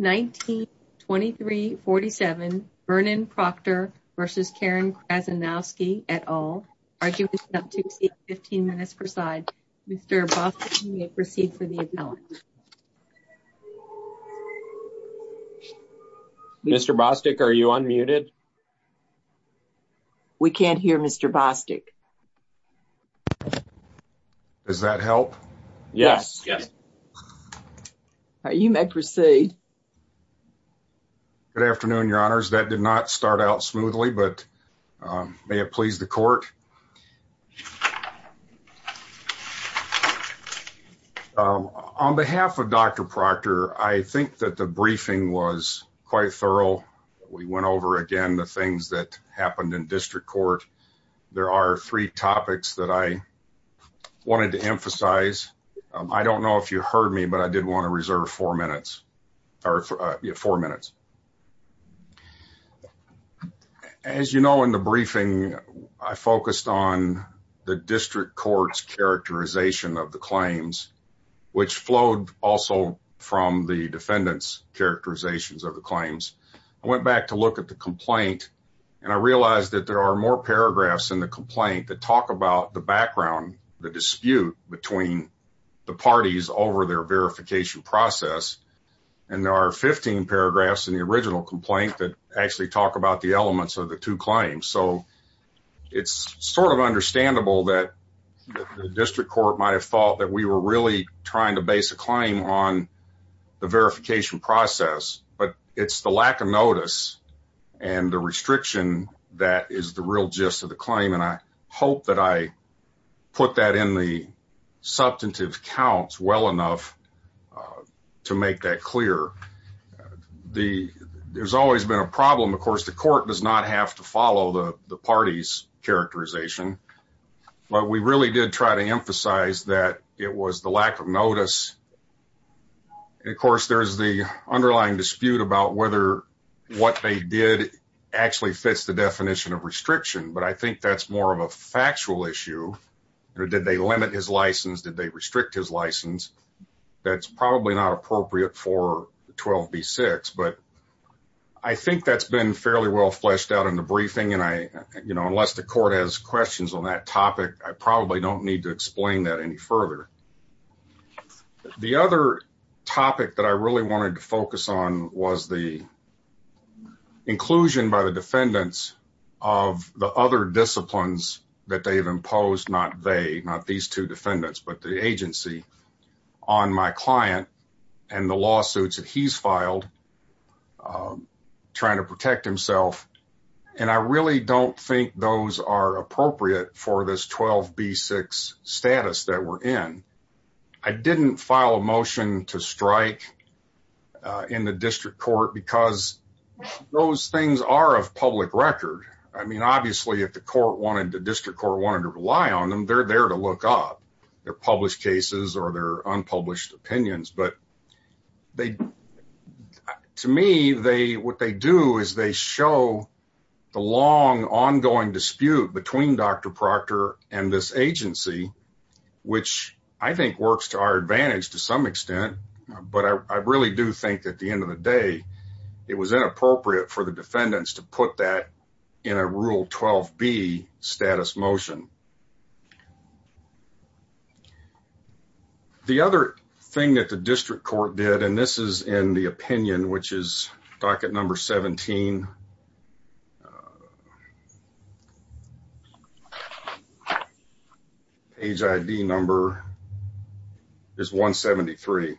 19-23-47 Vernon Proctor versus Karen Krzanowski et al. Arguing is up to 15 minutes per side. Mr. Bostic, you may proceed for the appellant. Mr. Bostic, are you unmuted? We can't hear Mr. Bostic. Does that help? Yes. Yes. You may proceed. Good afternoon, your honors. That did not start out smoothly, but may it please the court. On behalf of Dr. Proctor, I think that the briefing was quite thorough. We went over again the things that happened in district court. There are three topics that I wanted to emphasize. I don't know if you heard me, but I did want to reserve four minutes. As you know, in the briefing, I focused on the district court's characterization of the claims, which flowed also from the defendant's characterizations of the claims. I went back to look at the complaint, and I realized that there are more paragraphs in the complaint that talk about the background, the dispute between the parties over their verification process. There are 15 paragraphs in the original complaint that actually talk about the elements of the two claims. It's understandable that the district court might have thought that we were really trying to base a claim on the verification process, but it's the lack of notice and the restriction that is the real gist of the claim. I hope that I put that in the substantive counts well enough to make that clear. There's always been a problem. Of course, the court does not have to follow the party's characterization, but we really did try to emphasize that it was the lack of notice. Of course, there's the underlying dispute about whether what they did actually fits the definition of restriction, but I think that's more of a factual issue. Did they limit his license? Did they restrict his license? That's probably not appropriate for 12b-6, but I think that's been fairly well fleshed out in the briefing. Unless the court has questions on that topic, I probably don't need to explain that any further. The other topic that I really wanted to focus on was the inclusion by the defendants of the other disciplines that they've imposed, not they, not these two defendants, but the agency on my client and the lawsuits that he's filed trying to protect himself. I really don't think those are appropriate for this 12b-6 status that we're in. I didn't file a motion to strike in the district court because those things are of public record. Obviously, if the district court wanted to rely on them, they're there to look up their published cases or their unpublished opinions. To me, what they do is they show the long ongoing dispute between Dr. Proctor and this agency, which I think works to our advantage to some extent, but I really do think at the end of the day, it was inappropriate for the defendants to put that in a Rule 12b status motion. The other thing that the district court did, and this is in the opinion, which is docket number 17, page ID number is 173.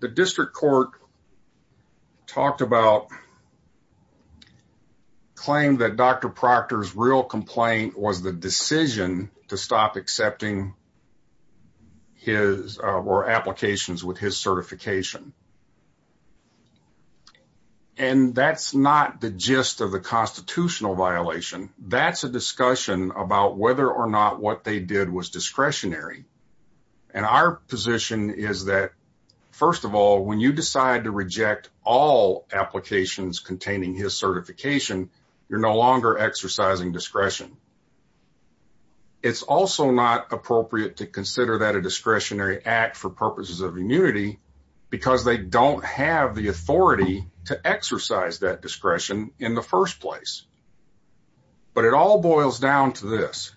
The district court talked about and claimed that Dr. Proctor's real complaint was the decision to stop accepting his or applications with his certification. And that's not the gist of the constitutional violation. That's a discussion about whether or not what they did was discretionary. And our position is that, first of all, when you decide to reject all applications containing his certification, you're no longer exercising discretion. It's also not appropriate to consider that a discretionary act for purposes of immunity because they don't have the authority to exercise that discretion in the first place. But it all boils down to this.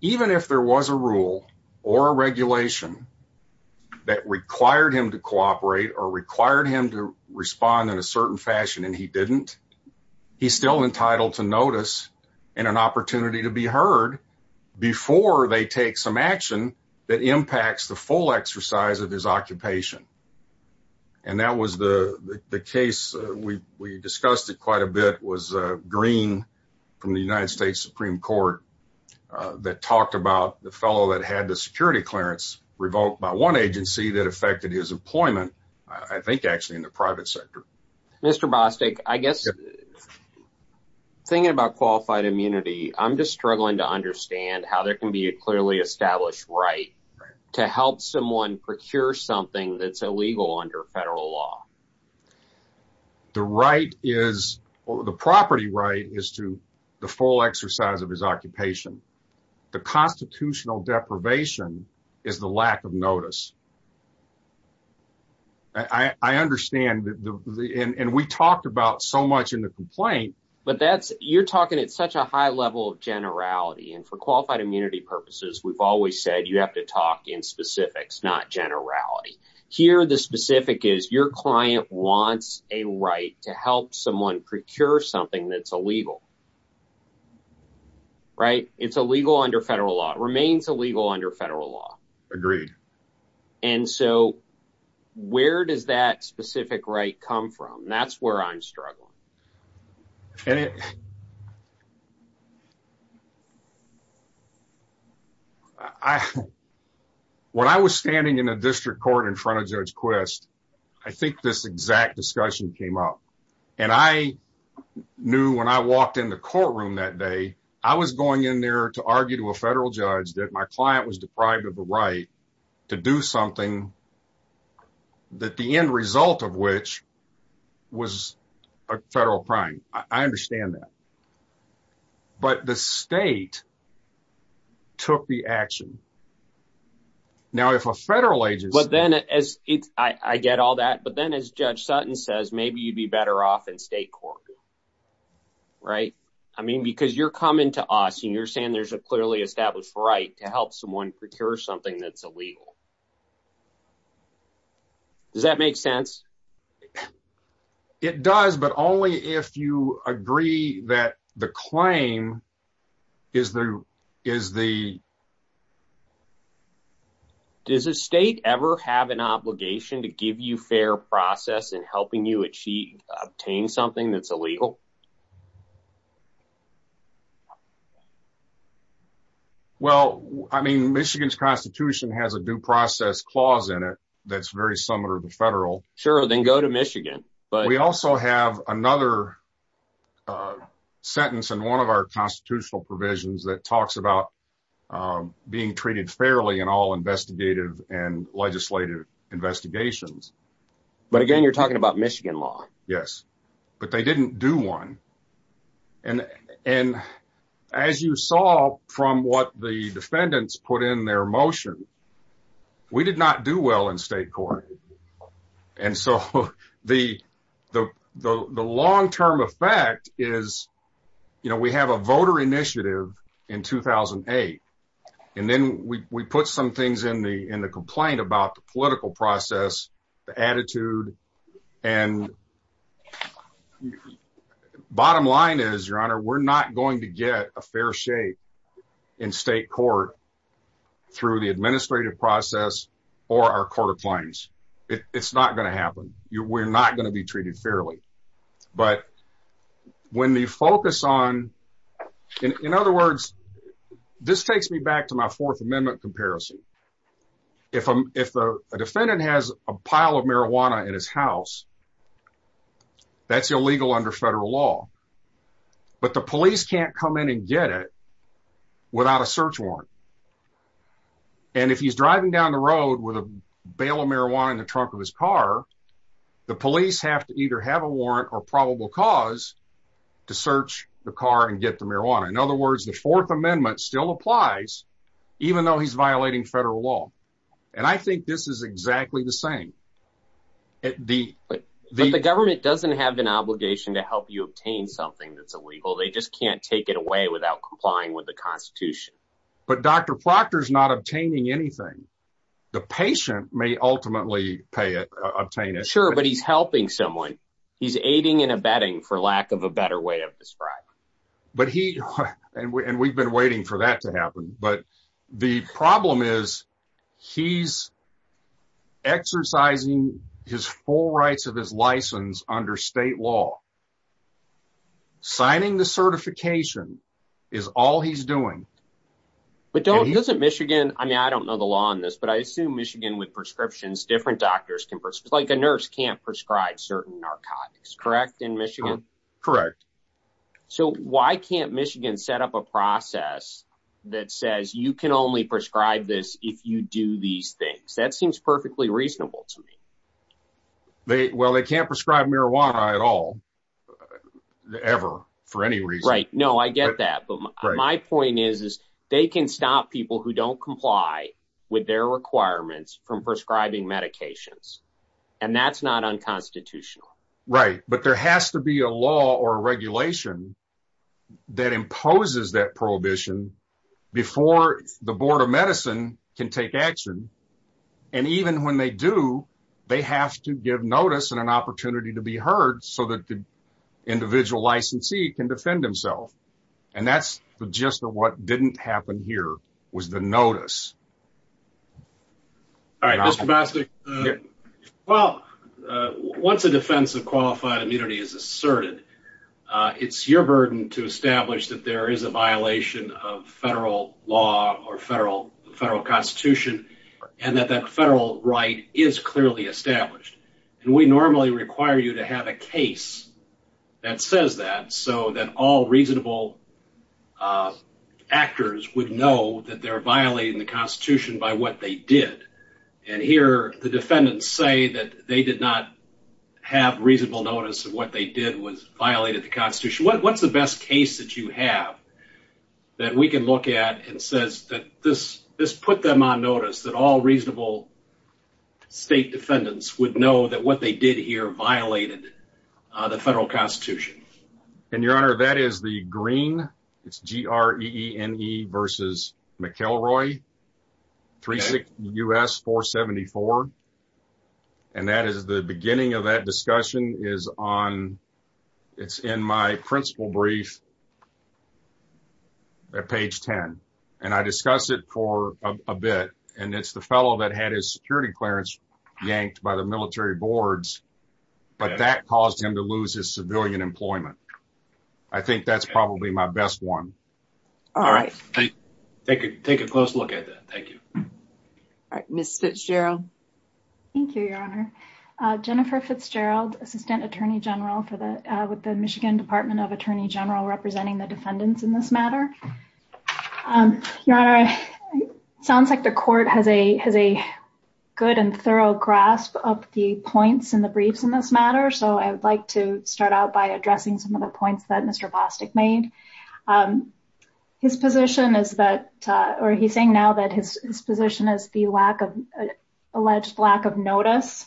Even if there was a rule or a regulation that required him to cooperate or required him to respond in a certain fashion and he didn't, he's still entitled to notice and an opportunity to be heard before they take some action that impacts the full exercise of his occupation. And that was the case. We discussed it quite a bit. It was Green from the United States Supreme Court that talked about the fellow that had the security clearance revoked by one agency that affected his employment, I think actually in the private sector. Mr. Bostic, I guess thinking about qualified immunity, I'm just struggling to understand how there can be a clearly established right to help someone procure something that's illegal under federal law. The right is, the property right is to the full exercise of his occupation. The constitutional deprivation is the lack of notice. I understand that. And we talked about so much in the complaint. But that's you're talking at such a high level of generality and for qualified immunity purposes, we've always said you have to talk in specifics, not generality. Here, the specific is your client wants a right to help someone procure something that's illegal. Right. It's illegal under federal law, remains illegal under federal law. Agreed. And so where does that specific right come from? That's where I'm struggling. I, when I was standing in a district court in front of Judge Quist, I think this exact discussion came up. And I knew when I walked in the courtroom that day, I was going in there to argue to a federal judge that my client was deprived of the right to do something that the end result of which was a federal crime. I understand that. But the state took the action. Now, if a federal agency. But then as I get all that, but then as Judge Sutton says, maybe you'd be better off in state court. Right. I mean, because you're coming to us and you're saying there's a clearly established right to help someone procure something that's illegal. Does that make sense? It does. But only if you agree that the claim is the, is the. Does a state ever have an obligation to give you fair process in helping you achieve, obtain something that's illegal? Well, I mean, Michigan's constitution has a due process clause in it. That's very similar to the federal. Sure. Then go to Michigan. But we also have another sentence in one of our constitutional provisions that talks about being treated fairly in all investigative and legislative investigations. But again, you're talking about Michigan law. Yes. But they didn't do one. And as you saw from what the defendants put in their motion, we did not do well in state court. And so the long term effect is, you know, we have a voter initiative in 2008. And then we put some bottom line is your honor, we're not going to get a fair shape in state court through the administrative process or our court of claims. It's not going to happen. We're not going to be treated fairly. But when the focus on, in other words, this takes me back to my fourth amendment comparison. If a defendant has a pile of marijuana in his house, that's illegal under federal law. But the police can't come in and get it without a search warrant. And if he's driving down the road with a bale of marijuana in the trunk of his car, the police have to either have a warrant or probable cause to search the car and get the marijuana. In other words, the fourth amendment still applies, even though he's violating federal law. And I think this is exactly the same. The government doesn't have an obligation to help you obtain something that's illegal. They just can't take it away without complying with the Constitution. But Dr. Proctor is not obtaining anything. The patient may ultimately pay it obtain it. Sure, but he's helping someone. He's aiding and abetting for lack of a better way of But he and we've been waiting for that to happen. But the problem is he's exercising his full rights of his license under state law. Signing the certification is all he's doing. But don't visit Michigan. I mean, I don't know the law on this, but I assume Michigan with prescriptions, different doctors can prescribe like a nurse can't prescribe certain narcotics, correct in Michigan? Correct. So why can't Michigan set up a process that says you can only prescribe this if you do these things? That seems perfectly reasonable to me. They well, they can't prescribe marijuana at all. Ever, for any reason, right? No, I get that. But my point is, is they can stop people who don't comply with their requirements from prescribing medications. And that's not unconstitutional, right? But there has to be a law or regulation that imposes that prohibition before the Board of Medicine can take action. And even when they do, they have to give notice and an opportunity to be heard so that the individual licensee can defend himself. And that's the gist of what didn't happen here was the notice. All right, Mr. Bostic. Well, once a defense of qualified immunity is asserted, it's your burden to establish that there is a violation of federal law or federal federal constitution and that that federal right is clearly established. And we normally require you to have a case that says that so that all reasonable actors would know that they're violating the constitution by what they did. And here the defendants say that they did not have reasonable notice of what they did was violated the constitution. What's the best case that you have that we can look at and says that this this put them on notice that all reasonable state defendants would know that what they did here violated the federal constitution? And your honor, that is the green. It's G. R. E. E. N. E. versus McElroy, three six U. S. 474. And that is the beginning of that discussion is on. It's in my principal brief at page 10. And I discussed it for a bit. And it's the fellow that had his security clearance yanked by the military boards. But that caused him to lose his civilian employment. I think that's probably my best one. All right, take a take a close look at that. Thank you. All right, Mr Fitzgerald. Thank you, Your Honor. Jennifer Fitzgerald, assistant attorney general for the with the Michigan Department of Attorney General, representing the defendants in this matter. Your Honor, sounds like the court has a has a good and thorough grasp of the points in the briefs in this matter. So I would like to start out by addressing some of the points that Mr. Bostic made. His position is that or he's saying now that his position is the lack of alleged lack of notice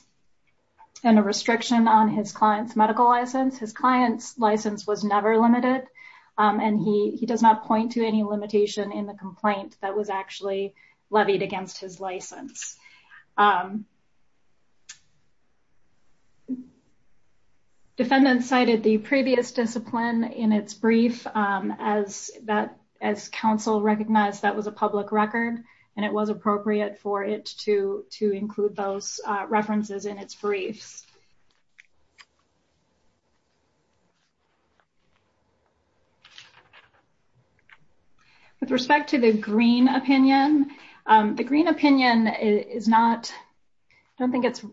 and a restriction on his client's medical license. His client's license was never limited. And he does not point to any limitation in the complaint that was actually levied against his license. Defendants cited the previous discipline in its brief as that as counsel recognized that was a public record. And it was appropriate for it to to include those in the case. With respect to the green opinion, the green opinion is not don't think it's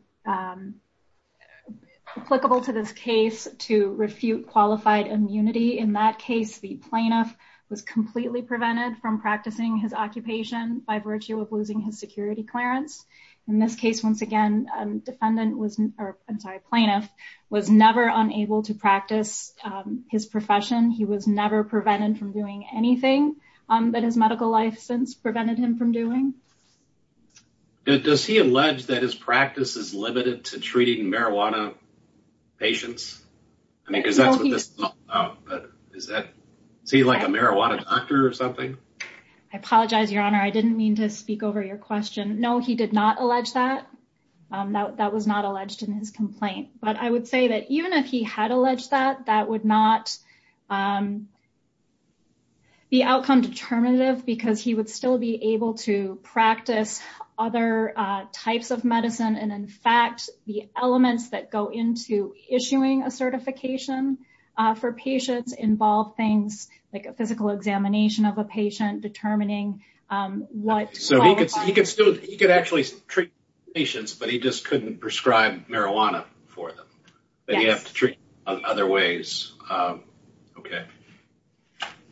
applicable to this case to refute qualified immunity. In that case, the plaintiff was completely prevented from practicing his occupation by virtue of losing his security clearance. In this case, once again, defendant was or I'm sorry, plaintiff was never unable to practice his profession. He was never prevented from doing anything that his medical license prevented him from doing. Does he allege that his practice is limited to treating marijuana patients? I mean, because that's what this is that see like a marijuana doctor or something? I apologize, Your Honor. I didn't mean to speak over your question. No, he did not allege that that was not alleged in his complaint. But I would say that even if he had alleged that, that would not be outcome determinative, because he would still be able to practice other types of medicine. And in fact, the elements that go into issuing a certification for patients involve things like a physical examination of a patient determining what so he could still he could actually treat patients, but he just couldn't prescribe marijuana for them. But you have to other ways. Okay.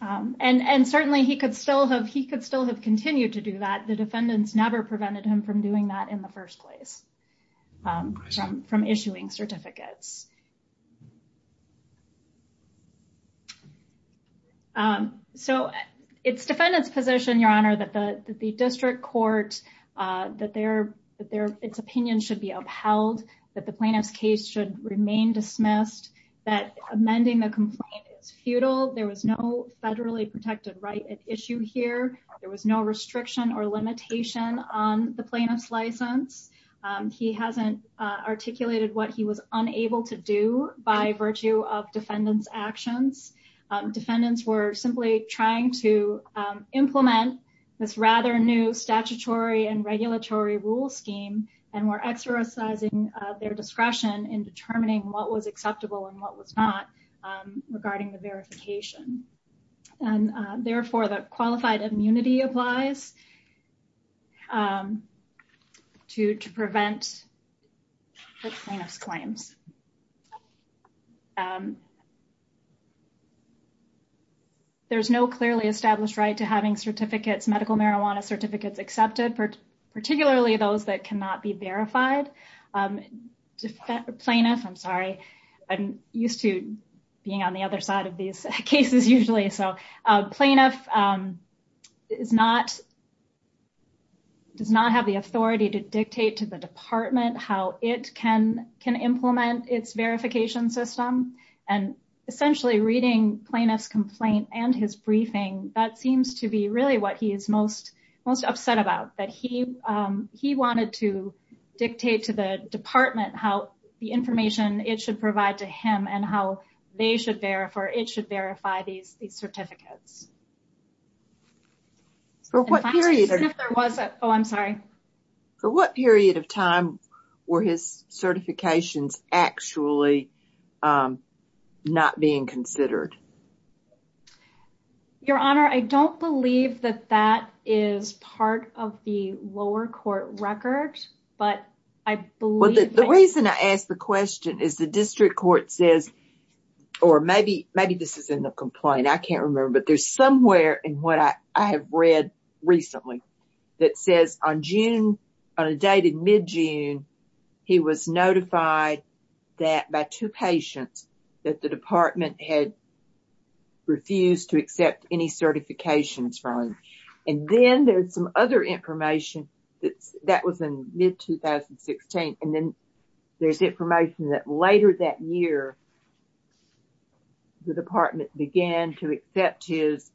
And certainly he could still have he could still have continued to do that. The defendants never prevented him from doing that in the first place. From issuing certificates. So it's defendant's position, Your Honor, that the district court, that their that their opinion should be upheld, that the plaintiff's case should remain dismissed, that amending the complaint is futile. There was no federally protected right at issue here. There was no restriction or limitation on the plaintiff's license. He hasn't articulated what he was unable to do by virtue of defendants actions. defendants were simply trying to implement this rather new statutory and regulatory rule scheme, and were exercising their discretion in determining what was acceptable and what was not regarding the verification. And therefore the qualified immunity applies to prevent plaintiff's claims. There's no clearly established right to having certificates, medical marijuana certificates accepted, particularly those that cannot be verified. Plaintiff, I'm sorry, I'm used to being on the other side of these cases usually. So plaintiff is not, does not have the authority to dictate to the department how it can implement its verification system. And essentially reading plaintiff's complaint and his briefing, that seems to be really what he is most upset about, that he wanted to dictate to the department how the information it should provide to him and how they should verify these certificates. For what period of time were his certifications actually not being considered? Your Honor, I don't believe that that is part of the lower court record, but I believe... Well, the reason I ask the question is the district court says, or maybe this is in the complaint, I can't remember, but there's somewhere in what I have read recently that says on June, on a date in mid-June, he was notified that by two patients that the department had refused to accept any certifications from him. And then there's some other information that was in mid-2016, and then there's information that later that year the department began to accept his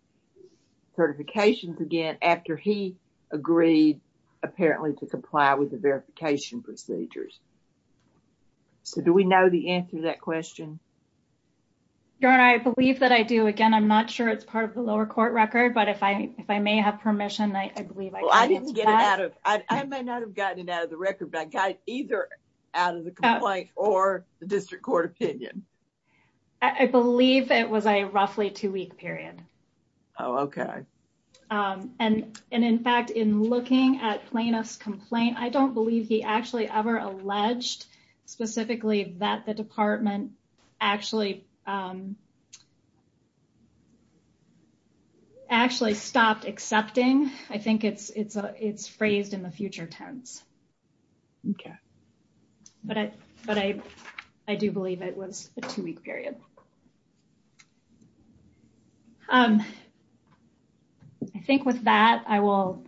certifications again after he agreed apparently to comply with I'm not sure it's part of the lower court record, but if I may have permission, I believe I can answer that. Well, I didn't get it out of... I may not have gotten it out of the record, but I got it either out of the complaint or the district court opinion. I believe it was a roughly two-week period. Oh, okay. And in fact, in looking at plaintiff's complaint, I don't believe he actually ever alleged specifically that the department actually stopped accepting. I think it's phrased in the future tense, but I do believe it was a two-week period. I think with that, I will...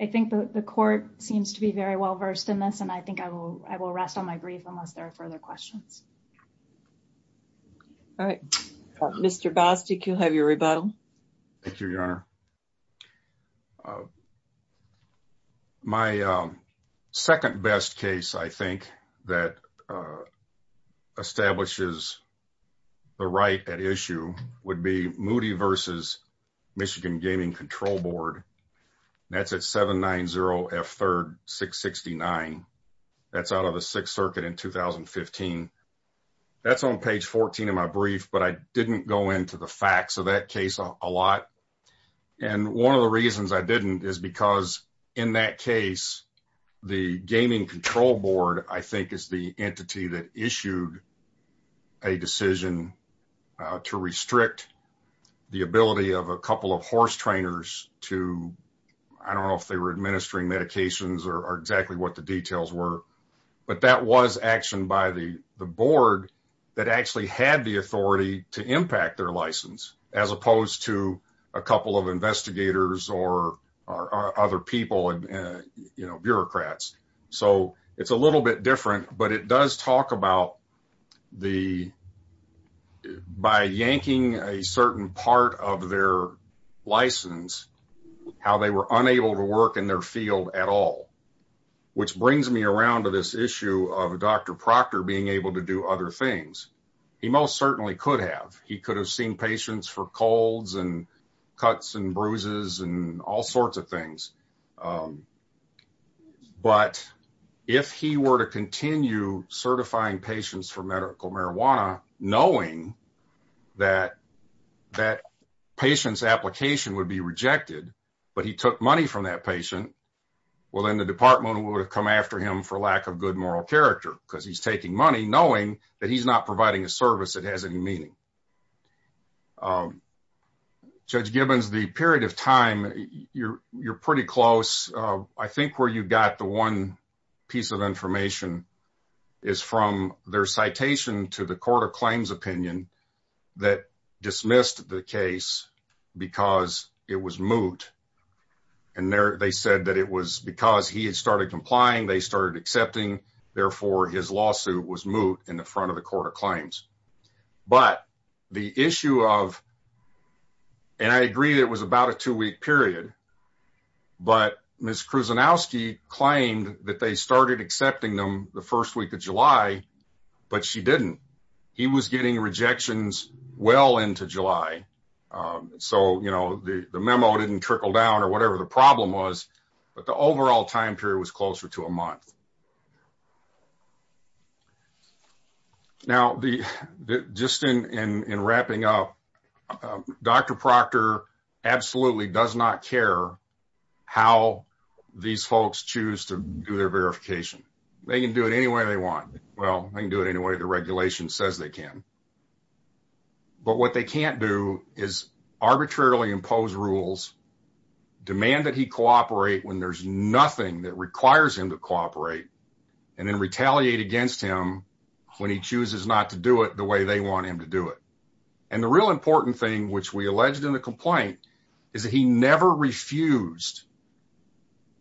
I think the court seems to be very well-versed in this, and I think I will rest on my grief unless there are further questions. All right. Mr. Bostic, you'll have your rebuttal. Thank you, Your Honor. My second best case, I think, that establishes the right at issue would be Moody v. Michigan that's out of the Sixth Circuit in 2015. That's on page 14 of my brief, but I didn't go into the facts of that case a lot. And one of the reasons I didn't is because in that case, the Gaming Control Board, I think, is the entity that issued a decision to restrict the ability of a couple of horse trainers to... I don't know if they were administering medications or exactly what the but that was action by the board that actually had the authority to impact their license, as opposed to a couple of investigators or other people and bureaucrats. So, it's a little bit different, but it does talk about the... by yanking a certain part of their license, how they were unable to work in their field at all, which brings me around to this issue of Dr. Proctor being able to do other things. He most certainly could have. He could have seen patients for colds and cuts and bruises and all sorts of things. But if he were to continue certifying patients for medical marijuana, knowing that that patient's application would be rejected, but he took money from that patient, well, then the department would have come after him for lack of good moral character, because he's taking money knowing that he's not providing a service that has any meaning. Judge Gibbons, the period of time, you're pretty close. I think where you got the one piece of information is from their citation to the Court of Claims opinion that dismissed the case because it was moot. And they said that it was because he had started complying, they started accepting, therefore his lawsuit was moot in the front of the Court of that they started accepting them the first week of July, but she didn't. He was getting rejections well into July. So, you know, the memo didn't trickle down or whatever the problem was, but the overall time period was closer to a month. Now, just in wrapping up, Dr. Proctor absolutely does not care how these folks choose to do their verification. They can do it any way they want. Well, they can do it any way the regulation says they can. But what they can't do is arbitrarily impose rules, demand that he cooperate when there's nothing that requires him to cooperate, and then retaliate against him when he chooses not to do it the way they want him to do it. And the real important thing, which we alleged in the complaint, is that he never refused.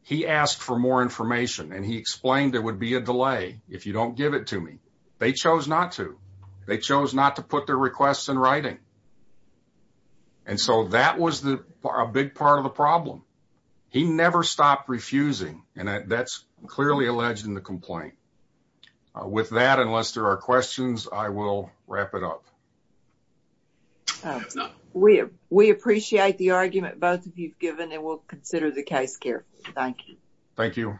He asked for more information and he explained there would be a delay if you don't give it to me. They chose not to. They chose not to put their requests in and that's clearly alleged in the complaint. With that, unless there are questions, I will wrap it up. We appreciate the argument both of you've given and we'll consider the case carefully. Thank you. Thank you.